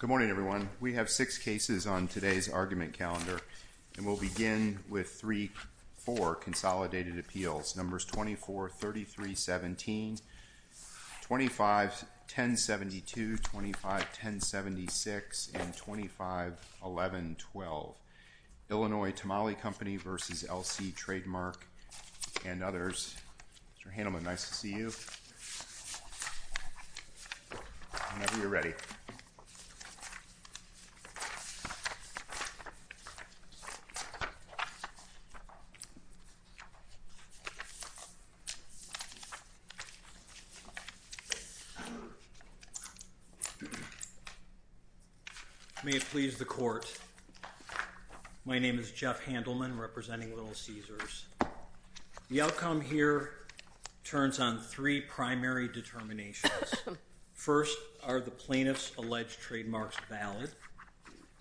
Good morning, everyone. We have six cases on today's argument calendar, and we'll begin with three, four consolidated appeals. Numbers 24, 33, 17, 25, 1072, 25, 1076, and 25, 11, 12. Illinois Tamale Company v. LC Trademark and others. Mr. Handelman, nice to see you. Whenever you're ready. May it please the Court, my name is Jeff Handelman, representing Little Caesars. The outcome here turns on three primary determinations. First, are the plaintiff's alleged trademarks valid?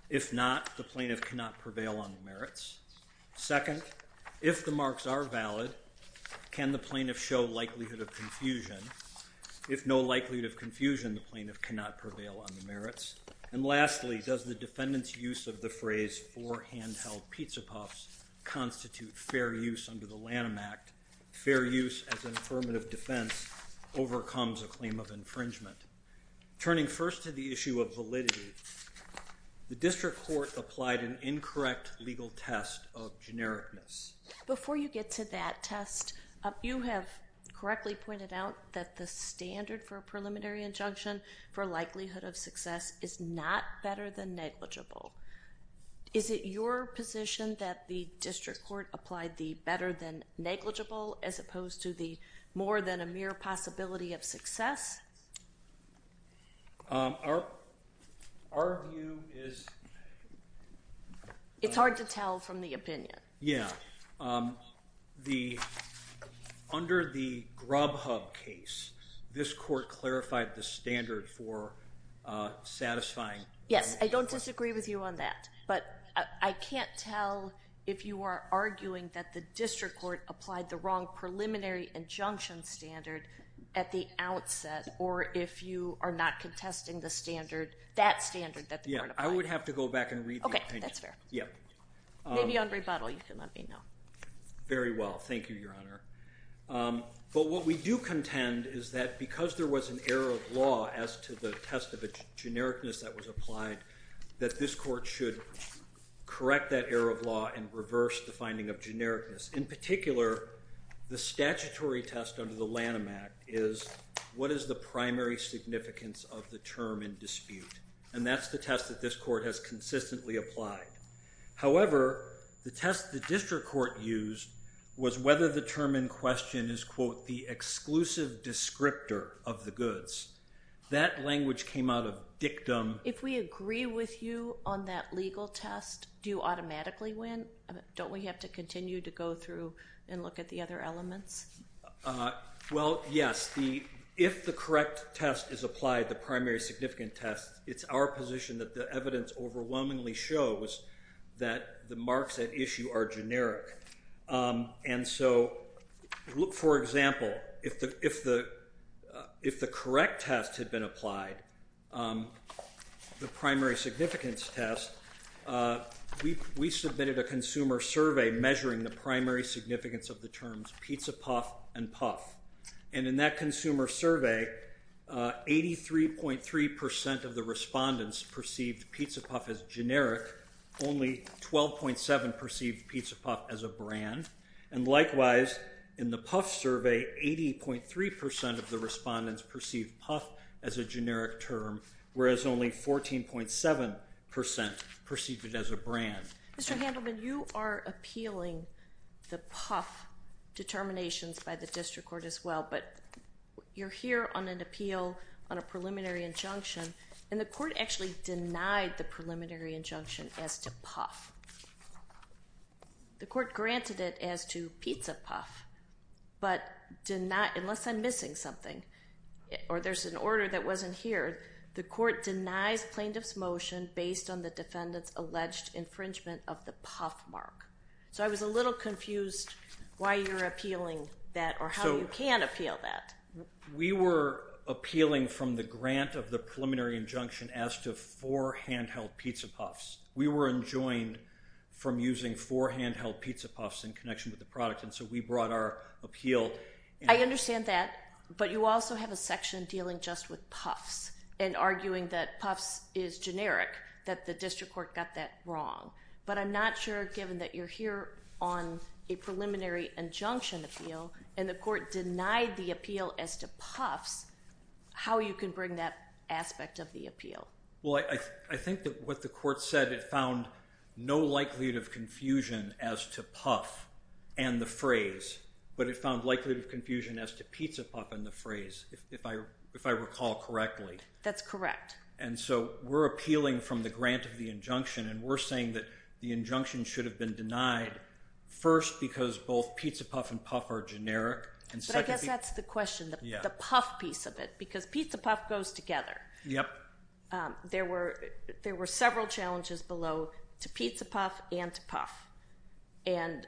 If not, the plaintiff cannot prevail on the merits. Second, if the marks are valid, can the plaintiff show likelihood of confusion? If no likelihood of confusion, the plaintiff cannot prevail on the merits. And lastly, does the defendant's use of the phrase for handheld pizza puffs constitute fair use under the Lanham Act? Fair use as an affirmative defense overcomes a claim of infringement. Turning first to the issue of validity, the district court applied an incorrect legal test of genericness. Before you get to that test, you have correctly pointed out that the standard for a preliminary injunction for likelihood of success is not better than negligible. Is it your position that the district court applied the better than negligible as opposed to the more than a mere possibility of success? It's hard to tell from the opinion. Yeah, under the Grubhub case, this court clarified the standard for satisfying. Yes, I don't disagree with you on that. But I can't tell if you are arguing that the district court applied the wrong preliminary injunction standard at the outset or if you are not contesting the standard, that standard that the court applied. Yeah, I would have to go back and read the opinion. Okay, that's fair. Maybe on rebuttal you should let me know. Very well, thank you, Your Honor. But what we do contend is that because there was an error of law as to the test of genericness that was applied, that this court should correct that error of law and reverse the finding of genericness. In particular, the statutory test under the Lanham Act is what is the primary significance of the term in dispute. And that's the test that this court has consistently applied. However, the test the district court used was whether the term in question is quote, the exclusive descriptor of the goods. That language came out of dictum. If we agree with you on that legal test, do you automatically win? Don't we have to continue to go through and look at the other elements? Well, yes. If the correct test is applied, the primary significant test, it's our position that the evidence overwhelmingly shows that the marks at issue are generic. And so, for example, if the correct test had been applied, the primary significance test, we submitted a consumer survey measuring the primary significance of the terms pizza puff and puff. And in that consumer survey, 83.3% of the respondents perceived pizza puff as generic. Only 12.7% perceived pizza puff as a brand. And likewise, in the puff survey, 80.3% of the respondents perceived puff as a generic term, whereas only 14.7% perceived it as a brand. Mr. Handelman, you are appealing the puff determinations by the district court as well, but you're here on an appeal on a preliminary injunction, and the court actually denied the preliminary injunction as to puff. The court granted it as to pizza puff, but unless I'm missing something or there's an order that wasn't here, the court denies plaintiff's motion based on the defendant's alleged infringement of the puff mark. So I was a little confused why you're appealing that or how you can appeal that. We were appealing from the grant of the preliminary injunction as to four handheld pizza puffs. We were enjoined from using four handheld pizza puffs in connection with the product, and so we brought our appeal. I understand that, but you also have a section dealing just with puffs and arguing that puffs is generic, that the district court got that wrong. But I'm not sure, given that you're here on a preliminary injunction appeal and the court denied the appeal as to puffs, how you can bring that aspect of the appeal. Well, I think that what the court said, it found no likelihood of confusion as to puff and the phrase, but it found likelihood of confusion as to pizza puff and the phrase, if I recall correctly. That's correct. And so we're appealing from the grant of the injunction, and we're saying that the injunction should have been denied, first because both pizza puff and puff are generic. But I guess that's the question, the puff piece of it, because pizza puff goes together. Yep. There were several challenges below to pizza puff and to puff, and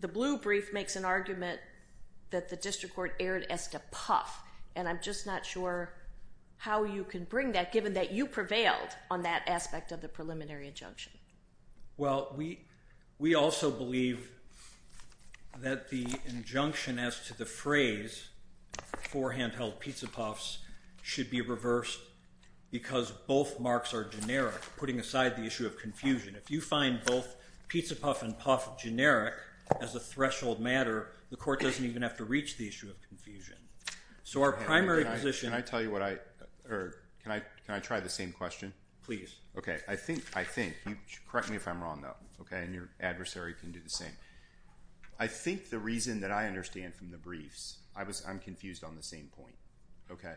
the blue brief makes an argument that the district court erred as to puff, and I'm just not sure how you can bring that, given that you prevailed on that aspect of the preliminary injunction. Well, we also believe that the injunction as to the phrase for handheld pizza puffs should be reversed because both marks are generic, putting aside the issue of confusion. If you find both pizza puff and puff generic as a threshold matter, the court doesn't even have to reach the issue of confusion. So our primary position. Can I tell you what I heard? Can I try the same question? Okay. I think you should correct me if I'm wrong, though, okay, and your adversary can do the same. I think the reason that I understand from the briefs, I'm confused on the same point, okay.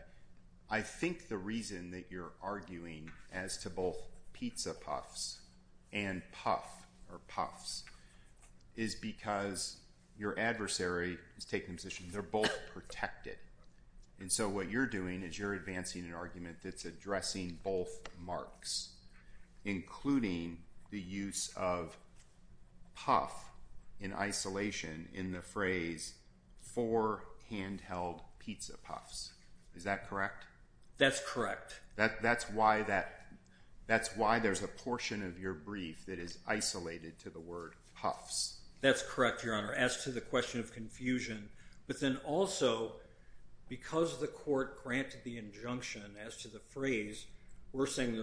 I think the reason that you're arguing as to both pizza puffs and puff or puffs is because your adversary is taking a position, they're both protected, and so what you're doing is you're advancing an argument that's addressing both marks, including the use of puff in isolation in the phrase for handheld pizza puffs. Is that correct? That's correct. That's why there's a portion of your brief that is isolated to the word puffs. That's correct, Your Honor. As to the question of confusion, but then also because the court granted the injunction as to the phrase, we're saying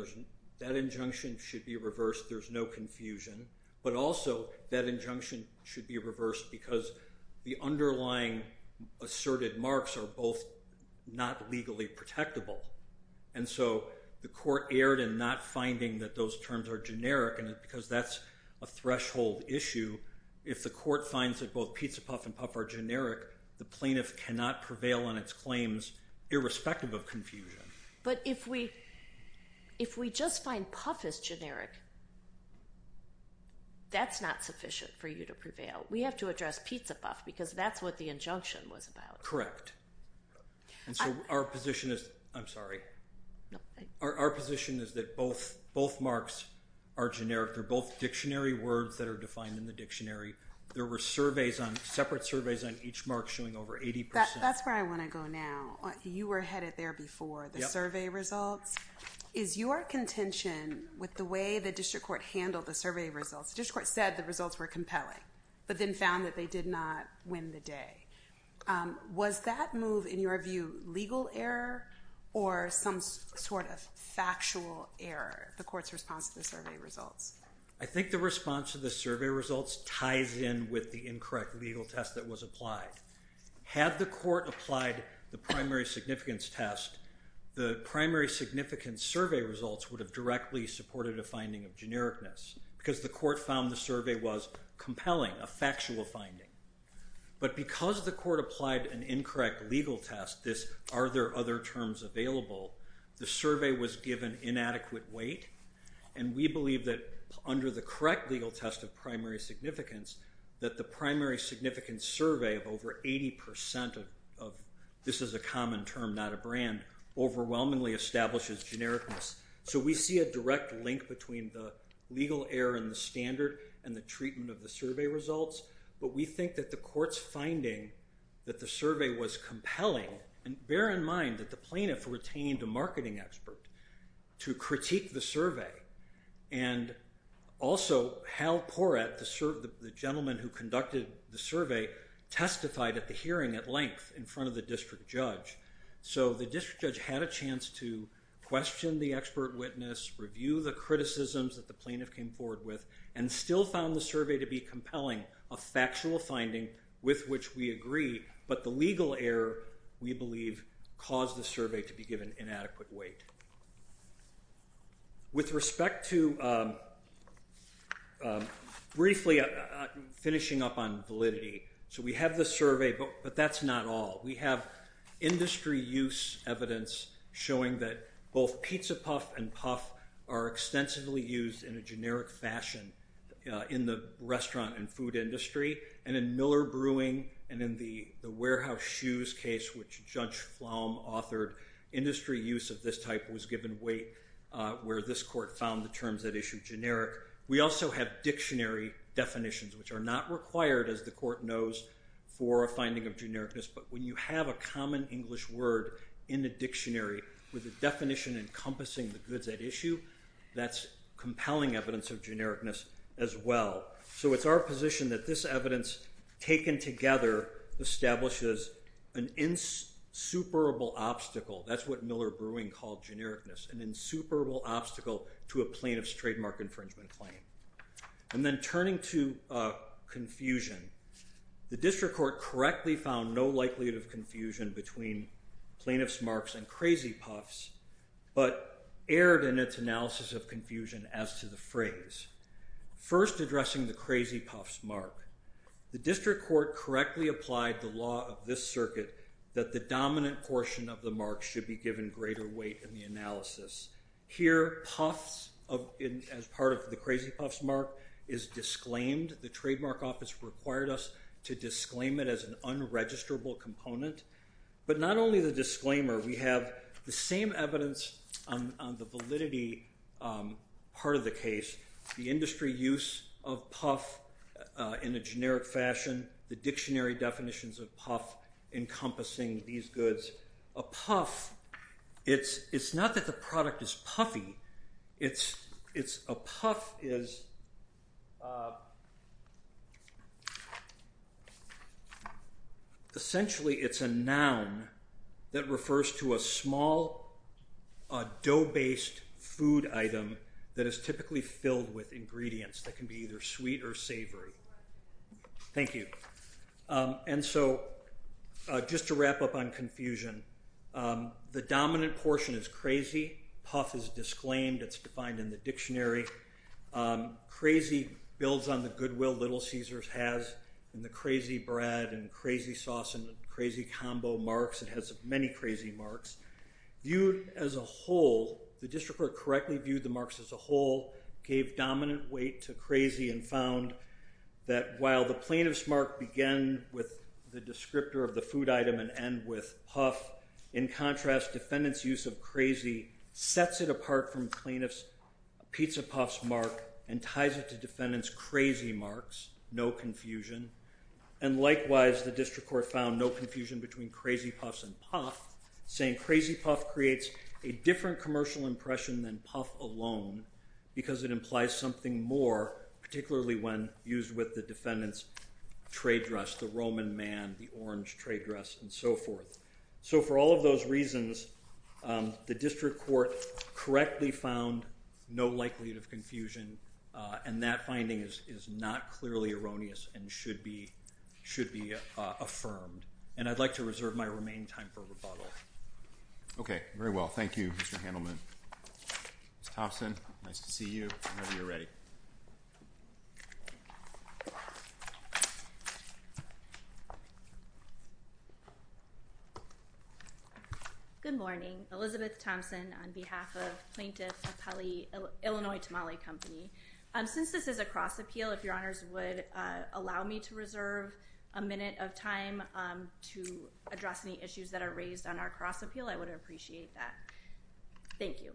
that injunction should be reversed, there's no confusion, but also that injunction should be reversed because the underlying asserted marks are both not legally protectable, and so the court erred in not finding that those terms are generic because that's a threshold issue. If the court finds that both pizza puff and puff are generic, the plaintiff cannot prevail on its claims irrespective of confusion. But if we just find puff as generic, that's not sufficient for you to prevail. We have to address pizza puff because that's what the injunction was about. Correct. I'm sorry. Our position is that both marks are generic. They're both dictionary words that are defined in the dictionary. There were separate surveys on each mark showing over 80%. That's where I want to go now. You were headed there before, the survey results. Is your contention with the way the district court handled the survey results, the district court said the results were compelling but then found that they did not win the day. Was that move, in your view, legal error or some sort of factual error, the court's response to the survey results? I think the response to the survey results ties in with the incorrect legal test that was applied. Had the court applied the primary significance test, the primary significance survey results would have directly supported a finding of genericness because the court found the survey was compelling, a factual finding. But because the court applied an incorrect legal test, this are there other terms available, the survey was given inadequate weight and we believe that under the correct legal test of primary significance that the primary significance survey of over 80% of this is a common term, not a brand, overwhelmingly establishes genericness. So we see a direct link between the legal error in the standard and the treatment of the survey results. But we think that the court's finding that the survey was compelling and bear in mind that the plaintiff retained a marketing expert to critique the survey and also Hal Porrett, the gentleman who conducted the survey, testified at the hearing at length in front of the district judge. So the district judge had a chance to question the expert witness, review the criticisms that the plaintiff came forward with and still found the survey to be compelling, a factual finding with which we agree, but the legal error we believe caused the survey to be given inadequate weight. With respect to briefly finishing up on validity, so we have the survey but that's not all. We have industry use evidence showing that both Pizza Puff and Puff are extensively used in a generic fashion in the restaurant and food industry and in Miller Brewing and in the Warehouse Shoes case, which Judge Flom authored, industry use of this type was given weight where this court found the terms at issue generic. We also have dictionary definitions which are not required, as the court knows, for a finding of genericness. But when you have a common English word in a dictionary with a definition encompassing the goods at issue, that's compelling evidence of genericness as well. So it's our position that this evidence taken together establishes an insuperable obstacle. That's what Miller Brewing called genericness, an insuperable obstacle to a plaintiff's trademark infringement claim. And then turning to confusion, the district court correctly found no likelihood of confusion between plaintiff's marks and Krazy Puffs but erred in its analysis of confusion as to the phrase. First, addressing the Krazy Puffs mark. The district court correctly applied the law of this circuit that the dominant portion of the mark should be given greater weight in the analysis. Here, Puffs as part of the Krazy Puffs mark is disclaimed. The trademark office required us to disclaim it as an unregisterable component. But not only the disclaimer. We have the same evidence on the validity part of the case. The industry use of Puff in a generic fashion, the dictionary definitions of Puff encompassing these goods. A Puff, it's not that the product is puffy. It's a Puff is essentially it's a noun that refers to a small dough-based food item that is typically filled with ingredients that can be either sweet or savory. Thank you. And so just to wrap up on confusion, the dominant portion is Krazy. Puff is disclaimed. It's defined in the dictionary. Krazy builds on the goodwill Little Caesars has and the Krazy Bread and Krazy Sauce and Krazy Combo marks. It has many Krazy marks. Viewed as a whole, the district court correctly viewed the marks as a whole, gave dominant weight to Krazy and found that while the plaintiff's mark began with the descriptor of the food item and end with Puff, in contrast, defendant's use of Krazy sets it apart from plaintiff's Pizza Puffs mark and ties it to defendant's Krazy marks, no confusion. And likewise, the district court found no confusion between Krazy Puffs and Puff, saying Krazy Puff creates a different commercial impression than Puff alone because it implies something more, particularly when used with the defendant's trade dress, the Roman man, the orange trade dress, and so forth. So for all of those reasons, the district court correctly found no likelihood of confusion, and that finding is not clearly erroneous and should be affirmed. And I'd like to reserve my remaining time for rebuttal. Okay. Very well. Thank you, Mr. Handelman. Ms. Thompson, nice to see you whenever you're ready. Good morning. Elizabeth Thompson on behalf of Plaintiff of Illinois Tamale Company. Since this is a cross appeal, if your honors would allow me to reserve a minute of time to address any issues that are raised on our cross appeal, I would appreciate that. Thank you.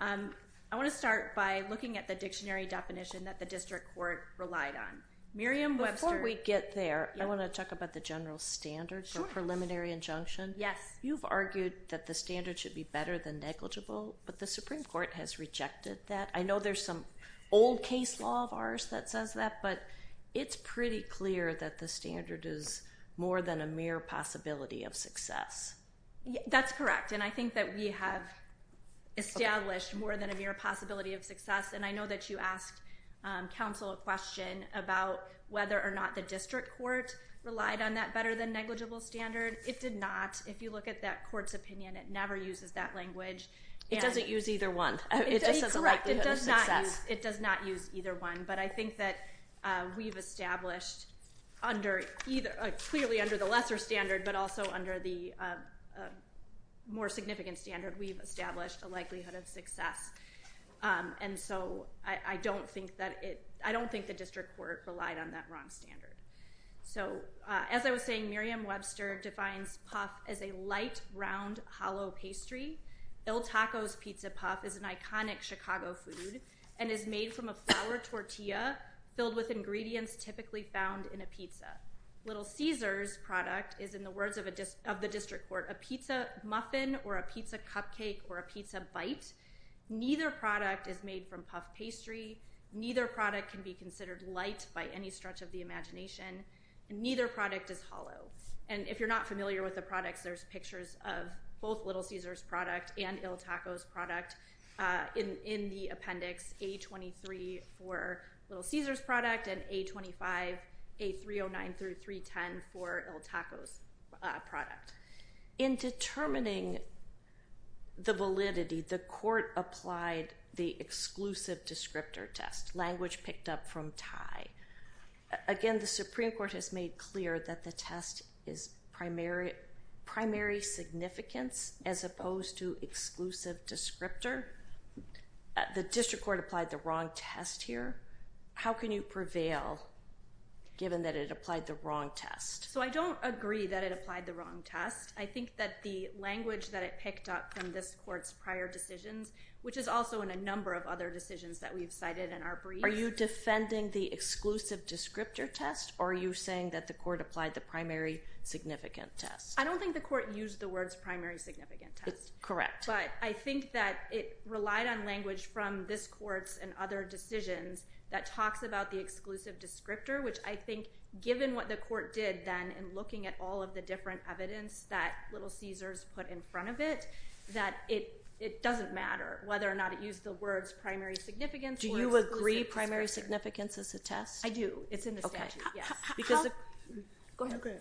I want to start by looking at the dictionary definition that the district court relied on. Miriam Webster. Before we get there, I want to talk about the general standard for preliminary injunction. Yes. You've argued that the standard should be better than negligible, but the Supreme Court has rejected that. I know there's some old case law of ours that says that, but it's pretty clear that the standard is more than a mere possibility of success. That's correct, and I think that we have established more than a mere possibility of success, and I know that you asked counsel a question about whether or not the district court relied on that better than negligible standard. It did not. If you look at that court's opinion, it never uses that language. It doesn't use either one. Correct. It does not use either one, but I think that we've established clearly under the lesser standard but also under the more significant standard, we've established a likelihood of success, and so I don't think the district court relied on that wrong standard. So as I was saying, Miriam Webster defines puff as a light, round, hollow pastry. Il Taco's pizza puff is an iconic Chicago food and is made from a flour tortilla filled with ingredients typically found in a pizza. Little Caesar's product is, in the words of the district court, a pizza muffin or a pizza cupcake or a pizza bite. Neither product is made from puff pastry. Neither product can be considered light by any stretch of the imagination, and neither product is hollow. And if you're not familiar with the products, there's pictures of both Little Caesar's product and Il Taco's product in the appendix, A23 for Little Caesar's product and A25, A309 through 310 for Il Taco's product. In determining the validity, the court applied the exclusive descriptor test, language picked up from Thai. Again, the Supreme Court has made clear that the test is primary significance as opposed to exclusive descriptor. The district court applied the wrong test here. How can you prevail given that it applied the wrong test? So I don't agree that it applied the wrong test. I think that the language that it picked up from this court's prior decisions, which is also in a number of other decisions that we've cited in our brief. Are you defending the exclusive descriptor test, or are you saying that the court applied the primary significant test? I don't think the court used the words primary significant test. Correct. But I think that it relied on language from this court's and other decisions that talks about the exclusive descriptor, which I think given what the court did then in looking at all of the different evidence that Little Caesar's put in front of it, that it doesn't matter whether or not it used the words primary significance or exclusive descriptor. Do you agree primary significance is a test? I do. It's in the statute, yes. Go ahead.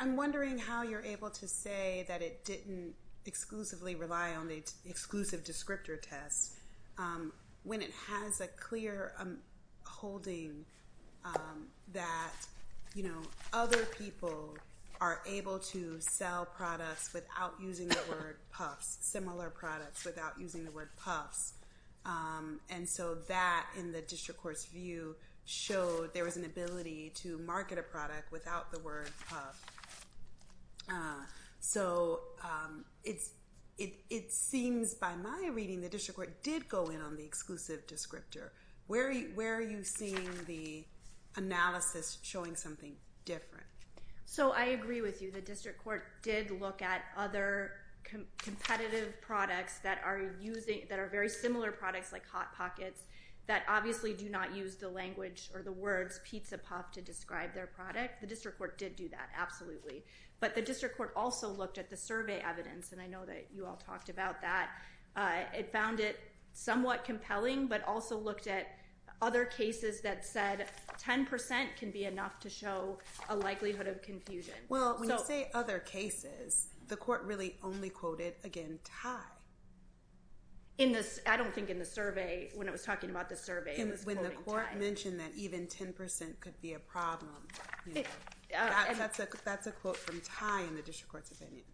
I'm wondering how you're able to say that it didn't exclusively rely on the exclusive descriptor test when it has a clear holding that other people are able to sell products without using the word puffs, similar products without using the word puffs. And so that in the district court's view showed there was an ability to market a product without the word puff. So it seems by my reading the district court did go in on the exclusive descriptor. Where are you seeing the analysis showing something different? So I agree with you. The district court did look at other competitive products that are very similar products like Hot Pockets that obviously do not use the language or the words pizza puff to describe their product. The district court did do that, absolutely. But the district court also looked at the survey evidence, and I know that you all talked about that. It found it somewhat compelling but also looked at other cases that said 10% can be enough to show a likelihood of confusion. Well, when you say other cases, the court really only quoted, again, Ty. I don't think in the survey, when it was talking about the survey, it was quoting Ty. When the court mentioned that even 10% could be a problem, that's a quote from Ty in the district court's opinion.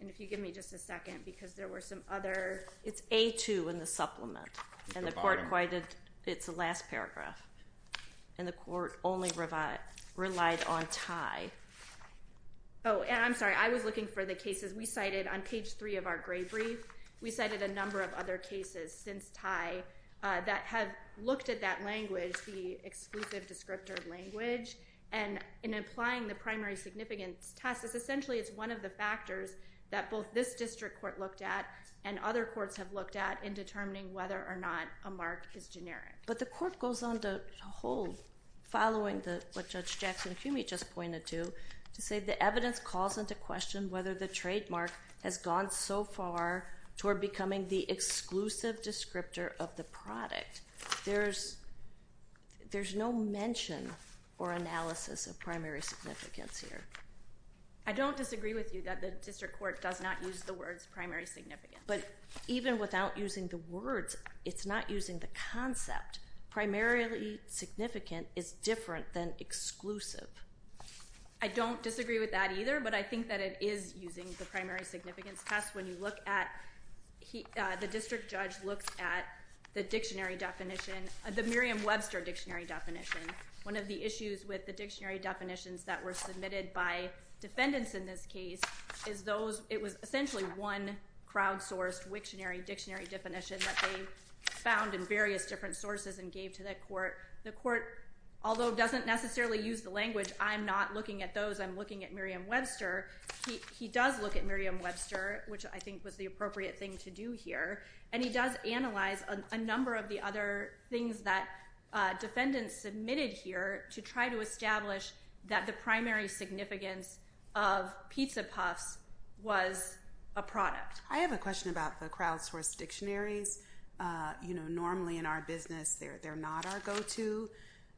And if you give me just a second because there were some other... It's A2 in the supplement, and the court quoted its last paragraph. And the court only relied on Ty. Oh, and I'm sorry, I was looking for the cases we cited on page 3 of our gray brief. We cited a number of other cases since Ty that have looked at that language, the exclusive descriptor language. And in applying the primary significance test, essentially it's one of the factors that both this district court looked at and other courts have looked at in determining whether or not a mark is generic. But the court goes on to hold, following what Judge Jackson-Humey just pointed to, to say the evidence calls into question whether the trademark has gone so far toward becoming the exclusive descriptor of the product. There's no mention or analysis of primary significance here. I don't disagree with you that the district court does not use the words primary significance. But even without using the words, it's not using the concept. Primarily significant is different than exclusive. I don't disagree with that either, but I think that it is using the primary significance test when you look at... The district judge looks at the dictionary definition, the Merriam-Webster dictionary definition. One of the issues with the dictionary definitions that were submitted by defendants in this case is those... It was essentially one crowd-sourced dictionary definition that they found in various different sources and gave to the court. The court, although doesn't necessarily use the language, I'm not looking at those. I'm looking at Merriam-Webster. He does look at Merriam-Webster, which I think was the appropriate thing to do here. And he does analyze a number of the other things that defendants submitted here to try to establish that the primary significance of pizza puffs was a product. I have a question about the crowd-sourced dictionaries. Normally in our business, they're not our go-to.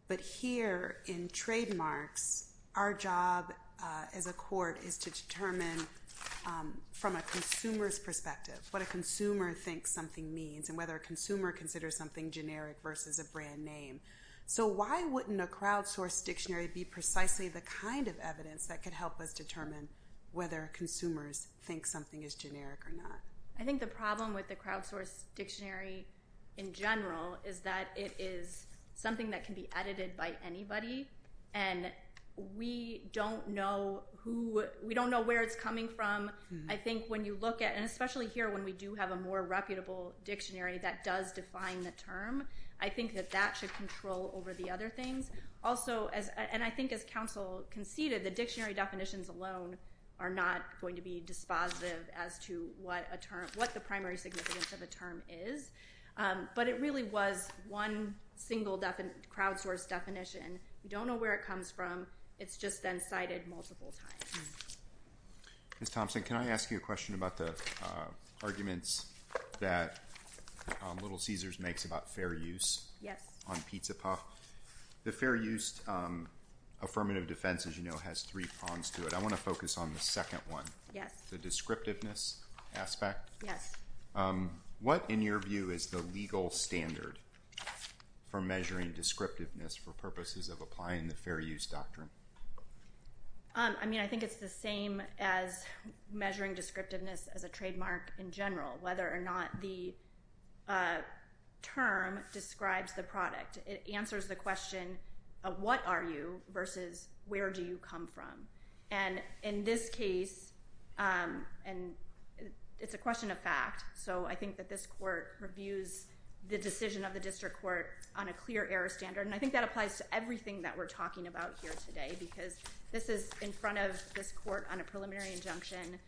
But here in trademarks, our job as a court is to determine from a consumer's perspective what a consumer thinks something means and whether a consumer considers something generic versus a brand name. So why wouldn't a crowd-sourced dictionary be precisely the kind of evidence that could help us determine whether consumers think something is generic or not? I think the problem with the crowd-sourced dictionary in general is that it is something that can be edited by anybody. And we don't know where it's coming from. I think when you look at it, and especially here when we do have a more reputable dictionary that does define the term, I think that that should control over the other things. Also, and I think as counsel conceded, the dictionary definitions alone are not going to be dispositive as to what the primary significance of a term is. But it really was one single crowd-sourced definition. We don't know where it comes from. It's just been cited multiple times. Ms. Thompson, can I ask you a question about the arguments that Little Caesars makes about fair use on pizza puffs? The fair use affirmative defense, as you know, has three prongs to it. I want to focus on the second one, the descriptiveness aspect. Yes. What, in your view, is the legal standard for measuring descriptiveness for purposes of applying the fair use doctrine? I mean, I think it's the same as measuring descriptiveness as a trademark in general, whether or not the term describes the product. It answers the question of what are you versus where do you come from. And in this case, it's a question of fact. So I think that this court reviews the decision of the district court on a clear error standard. And I think that applies to everything that we're talking about here today because this is in front of this court on a preliminary injunction.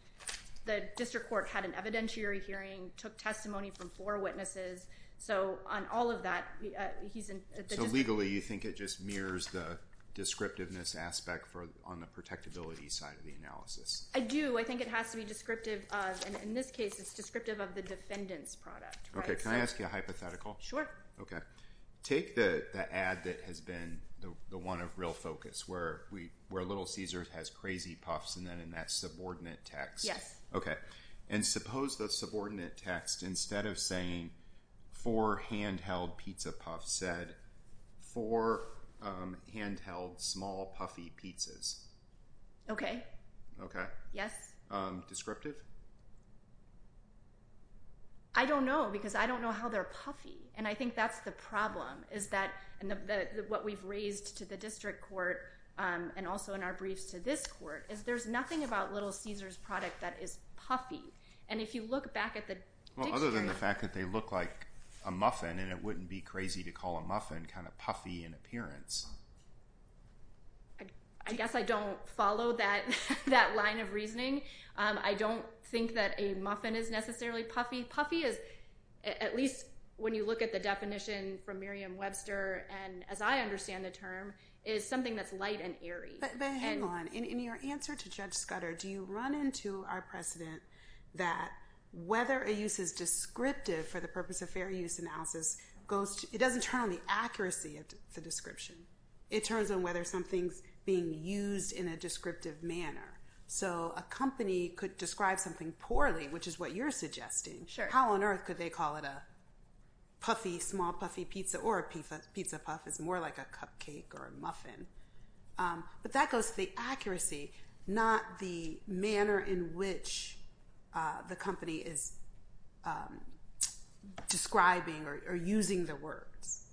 The district court had an evidentiary hearing, took testimony from four witnesses. So on all of that, he's in the district court. So legally, you think it just mirrors the descriptiveness aspect on the protectability side of the analysis? I do. I think it has to be descriptive of, and in this case, it's descriptive of the defendant's product. Okay. Can I ask you a hypothetical? Sure. Okay. Take the ad that has been the one of real focus where Little Caesars has crazy puffs and then in that subordinate text. Yes. Okay. And suppose the subordinate text, instead of saying four handheld pizza puffs, said four handheld small puffy pizzas. Okay. Okay. Yes. Descriptive? I don't know because I don't know how they're puffy. And I think that's the problem, is that what we've raised to the district court and also in our briefs to this court, is there's nothing about Little Caesars product that is puffy. And if you look back at the dictionary. Well, other than the fact that they look like a muffin and it wouldn't be crazy to call a muffin kind of puffy in appearance. I guess I don't follow that line of reasoning. I don't think that a muffin is necessarily puffy. Puffy is, at least when you look at the definition from Merriam-Webster and as I understand the term, is something that's light and airy. But hang on. In your answer to Judge Scudder, do you run into our precedent that whether a use is descriptive for the purpose of fair use analysis, it doesn't turn on the accuracy of the description. It turns on whether something's being used in a descriptive manner. So a company could describe something poorly, which is what you're suggesting. Sure. How on earth could they call it a puffy, small puffy pizza or a pizza puff is more like a cupcake or a muffin. But that goes to the accuracy, not the manner in which the company is describing or using the words.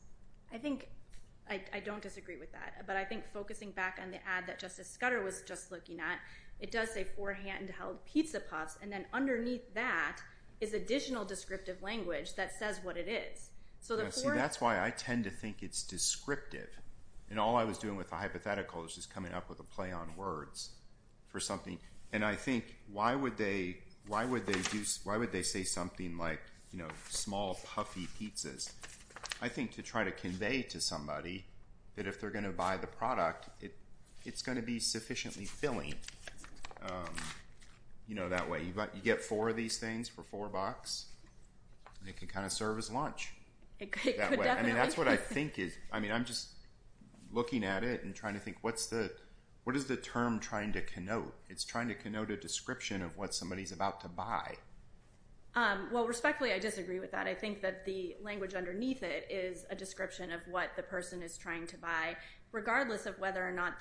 I don't disagree with that. But I think focusing back on the ad that Justice Scudder was just looking at, it does say four handheld pizza puffs. And then underneath that is additional descriptive language that says what it is. See, that's why I tend to think it's descriptive. And all I was doing with the hypothetical is just coming up with a play on words for something. And I think why would they say something like small puffy pizzas. I think to try to convey to somebody that if they're going to buy the product, it's going to be sufficiently filling. You know, that way you get four of these things for four bucks, and it can kind of serve as lunch. It could definitely. I mean, that's what I think is. I mean, I'm just looking at it and trying to think what is the term trying to connote. It's trying to connote a description of what somebody's about to buy. Well, respectfully, I disagree with that. But I think that the language underneath it is a description of what the person is trying to buy, regardless of whether or not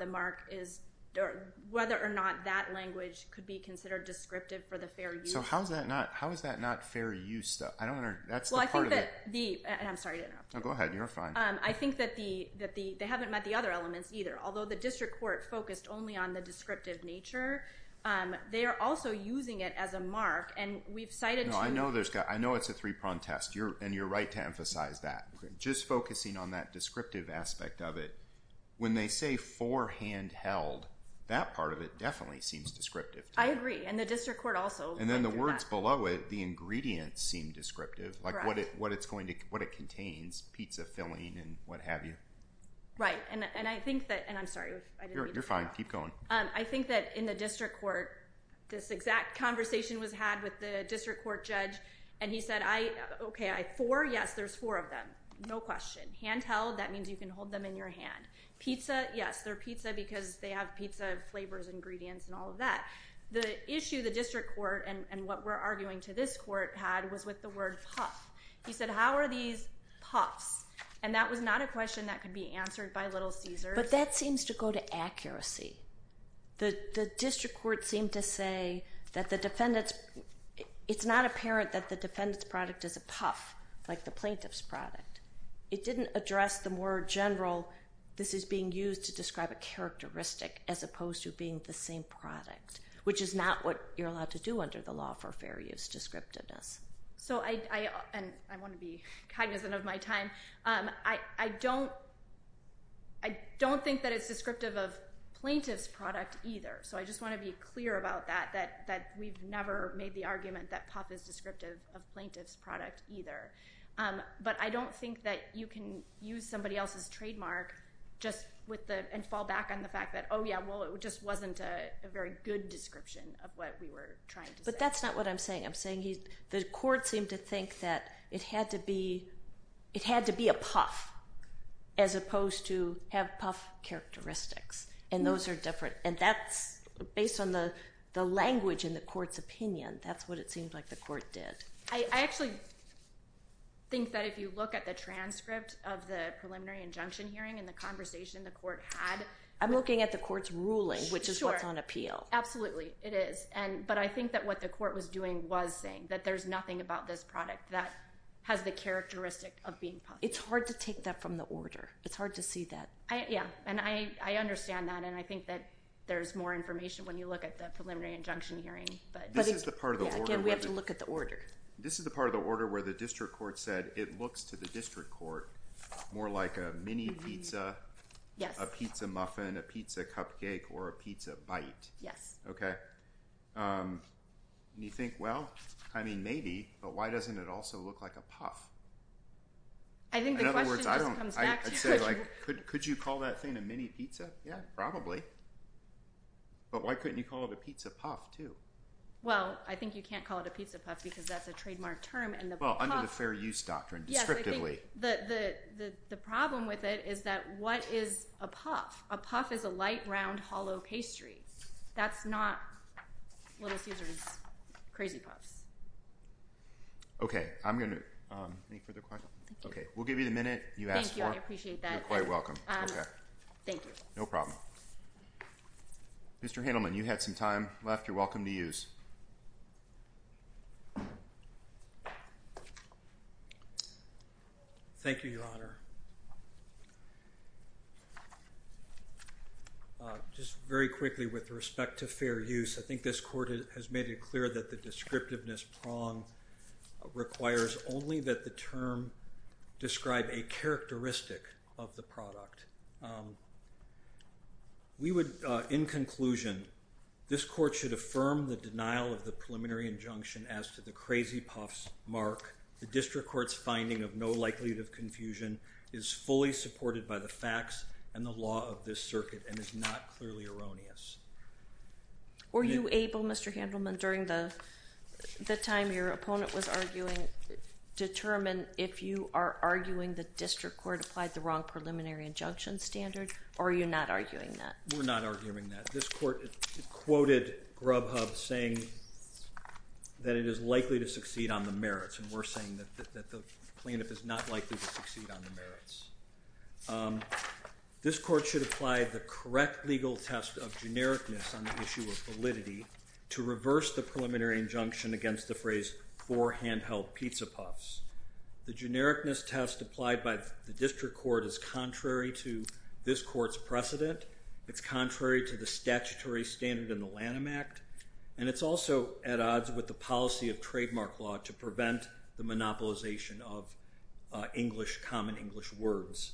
that language could be considered descriptive for the fair use. So how is that not fair use stuff? Well, I think that the—I'm sorry to interrupt. Oh, go ahead. You're fine. I think that they haven't met the other elements either. Although the district court focused only on the descriptive nature, they are also using it as a mark. I know it's a three-pronged test, and you're right to emphasize that. Just focusing on that descriptive aspect of it, when they say forehand held, that part of it definitely seems descriptive. I agree, and the district court also went through that. And then the words below it, the ingredients seem descriptive, like what it contains, pizza filling and what have you. Right, and I think that—and I'm sorry if I didn't mean to interrupt. You're fine. Keep going. I think that in the district court, this exact conversation was had with the district court judge, and he said, okay, four, yes, there's four of them, no question. Handheld, that means you can hold them in your hand. Pizza, yes, they're pizza because they have pizza flavors, ingredients, and all of that. The issue the district court and what we're arguing to this court had was with the word puff. He said, how are these puffs? And that was not a question that could be answered by Little Caesars. But that seems to go to accuracy. The district court seemed to say that the defendant's—it's not apparent that the defendant's product is a puff, like the plaintiff's product. It didn't address the more general, this is being used to describe a characteristic as opposed to being the same product, which is not what you're allowed to do under the law for fair use descriptiveness. So I want to be cognizant of my time. I don't think that it's descriptive of plaintiff's product either. So I just want to be clear about that, that we've never made the argument that puff is descriptive of plaintiff's product either. But I don't think that you can use somebody else's trademark and fall back on the fact that, oh, yeah, well, it just wasn't a very good description of what we were trying to say. But that's not what I'm saying. I'm saying the court seemed to think that it had to be a puff as opposed to have puff characteristics. And those are different. And that's—based on the language in the court's opinion, that's what it seemed like the court did. I actually think that if you look at the transcript of the preliminary injunction hearing and the conversation the court had— I'm looking at the court's ruling, which is what's on appeal. Sure. Absolutely, it is. But I think that what the court was doing was saying that there's nothing about this product that has the characteristic of being puff. It's hard to take that from the order. It's hard to see that. Yeah. And I understand that. And I think that there's more information when you look at the preliminary injunction hearing. But again, we have to look at the order. This is the part of the order where the district court said it looks to the district court more like a mini pizza, a pizza muffin, a pizza cupcake, or a pizza bite. Yes. Okay. And you think, well, I mean, maybe, but why doesn't it also look like a puff? I think the question just comes back to— In other words, I don't—I'd say, like, could you call that thing a mini pizza? Yeah, probably. But why couldn't you call it a pizza puff, too? Well, I think you can't call it a pizza puff because that's a trademark term, and the puff— Well, under the fair use doctrine, descriptively. Yes, I think the problem with it is that what is a puff? A puff is a light, round, hollow pastry. That's not what is used as crazy puffs. Okay. I'm going to—any further questions? Okay. We'll give you the minute you asked for. I appreciate that. You're quite welcome. Thank you. No problem. Mr. Handelman, you had some time left. You're welcome to use. Thank you, Your Honor. Just very quickly, with respect to fair use, I think this court has made it clear that the descriptiveness prong requires only that the term describe a characteristic of the product. We would, in conclusion, this court should affirm the denial of the preliminary injunction as to the crazy puffs mark. The district court's finding of no likelihood of confusion is fully supported by the facts and the law of this circuit and is not clearly erroneous. Were you able, Mr. Handelman, during the time your opponent was arguing, determine if you are arguing the district court applied the wrong preliminary injunction standard, or are you not arguing that? We're not arguing that. This court quoted Grubhub saying that it is likely to succeed on the merits, and we're saying that the plaintiff is not likely to succeed on the merits. This court should apply the correct legal test of genericness on the issue of validity to reverse the preliminary injunction against the phrase for handheld pizza puffs. The genericness test applied by the district court is contrary to this court's precedent. It's contrary to the statutory standard in the Lanham Act. And it's also at odds with the policy of trademark law to prevent the monopolization of English, common English words.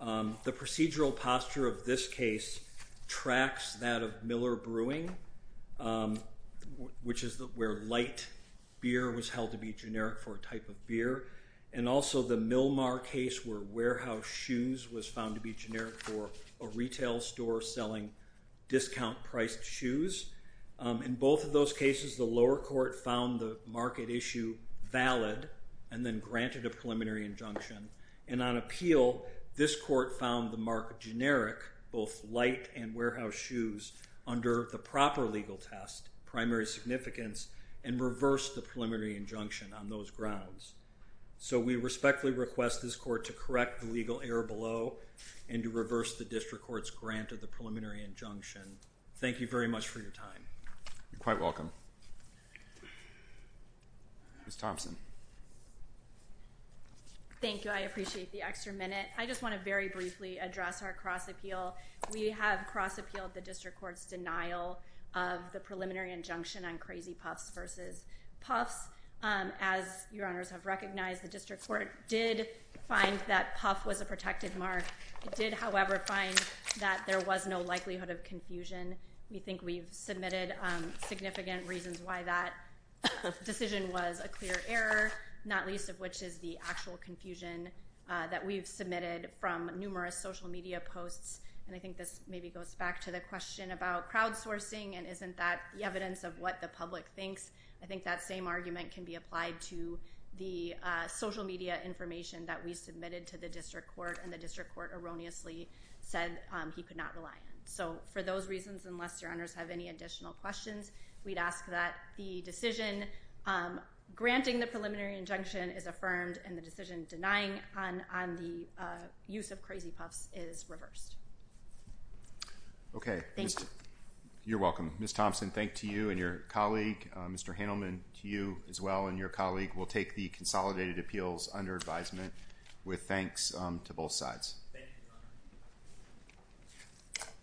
The procedural posture of this case tracks that of Miller Brewing, which is where light beer was held to be generic for a type of beer. And also the Milmar case where warehouse shoes was found to be generic for a retail store selling discount-priced shoes. In both of those cases, the lower court found the market issue valid and then granted a preliminary injunction. And on appeal, this court found the mark generic, both light and warehouse shoes, under the proper legal test, primary significance, and reversed the preliminary injunction on those grounds. So we respectfully request this court to correct the legal error below and to reverse the district court's grant of the preliminary injunction. Thank you very much for your time. You're quite welcome. Ms. Thompson. Thank you. I appreciate the extra minute. I just want to very briefly address our cross-appeal. We have cross-appealed the district court's denial of the preliminary injunction on Crazy Puffs versus Puffs. As your honors have recognized, the district court did find that Puff was a protected mark. It did, however, find that there was no likelihood of confusion. We think we've submitted significant reasons why that decision was a clear error, not least of which is the actual confusion that we've submitted from numerous social media posts. And I think this maybe goes back to the question about crowdsourcing and isn't that the evidence of what the public thinks. I think that same argument can be applied to the social media information that we submitted to the district court, and the district court erroneously said he could not rely on. So for those reasons, unless your honors have any additional questions, we'd ask that the decision granting the preliminary injunction is affirmed, and the decision denying on the use of Crazy Puffs is reversed. Okay. Thank you. You're welcome. Ms. Thompson, thank you and your colleague. Mr. Handelman, to you as well and your colleague. We'll take the consolidated appeals under advisement with thanks to both sides. Thank you.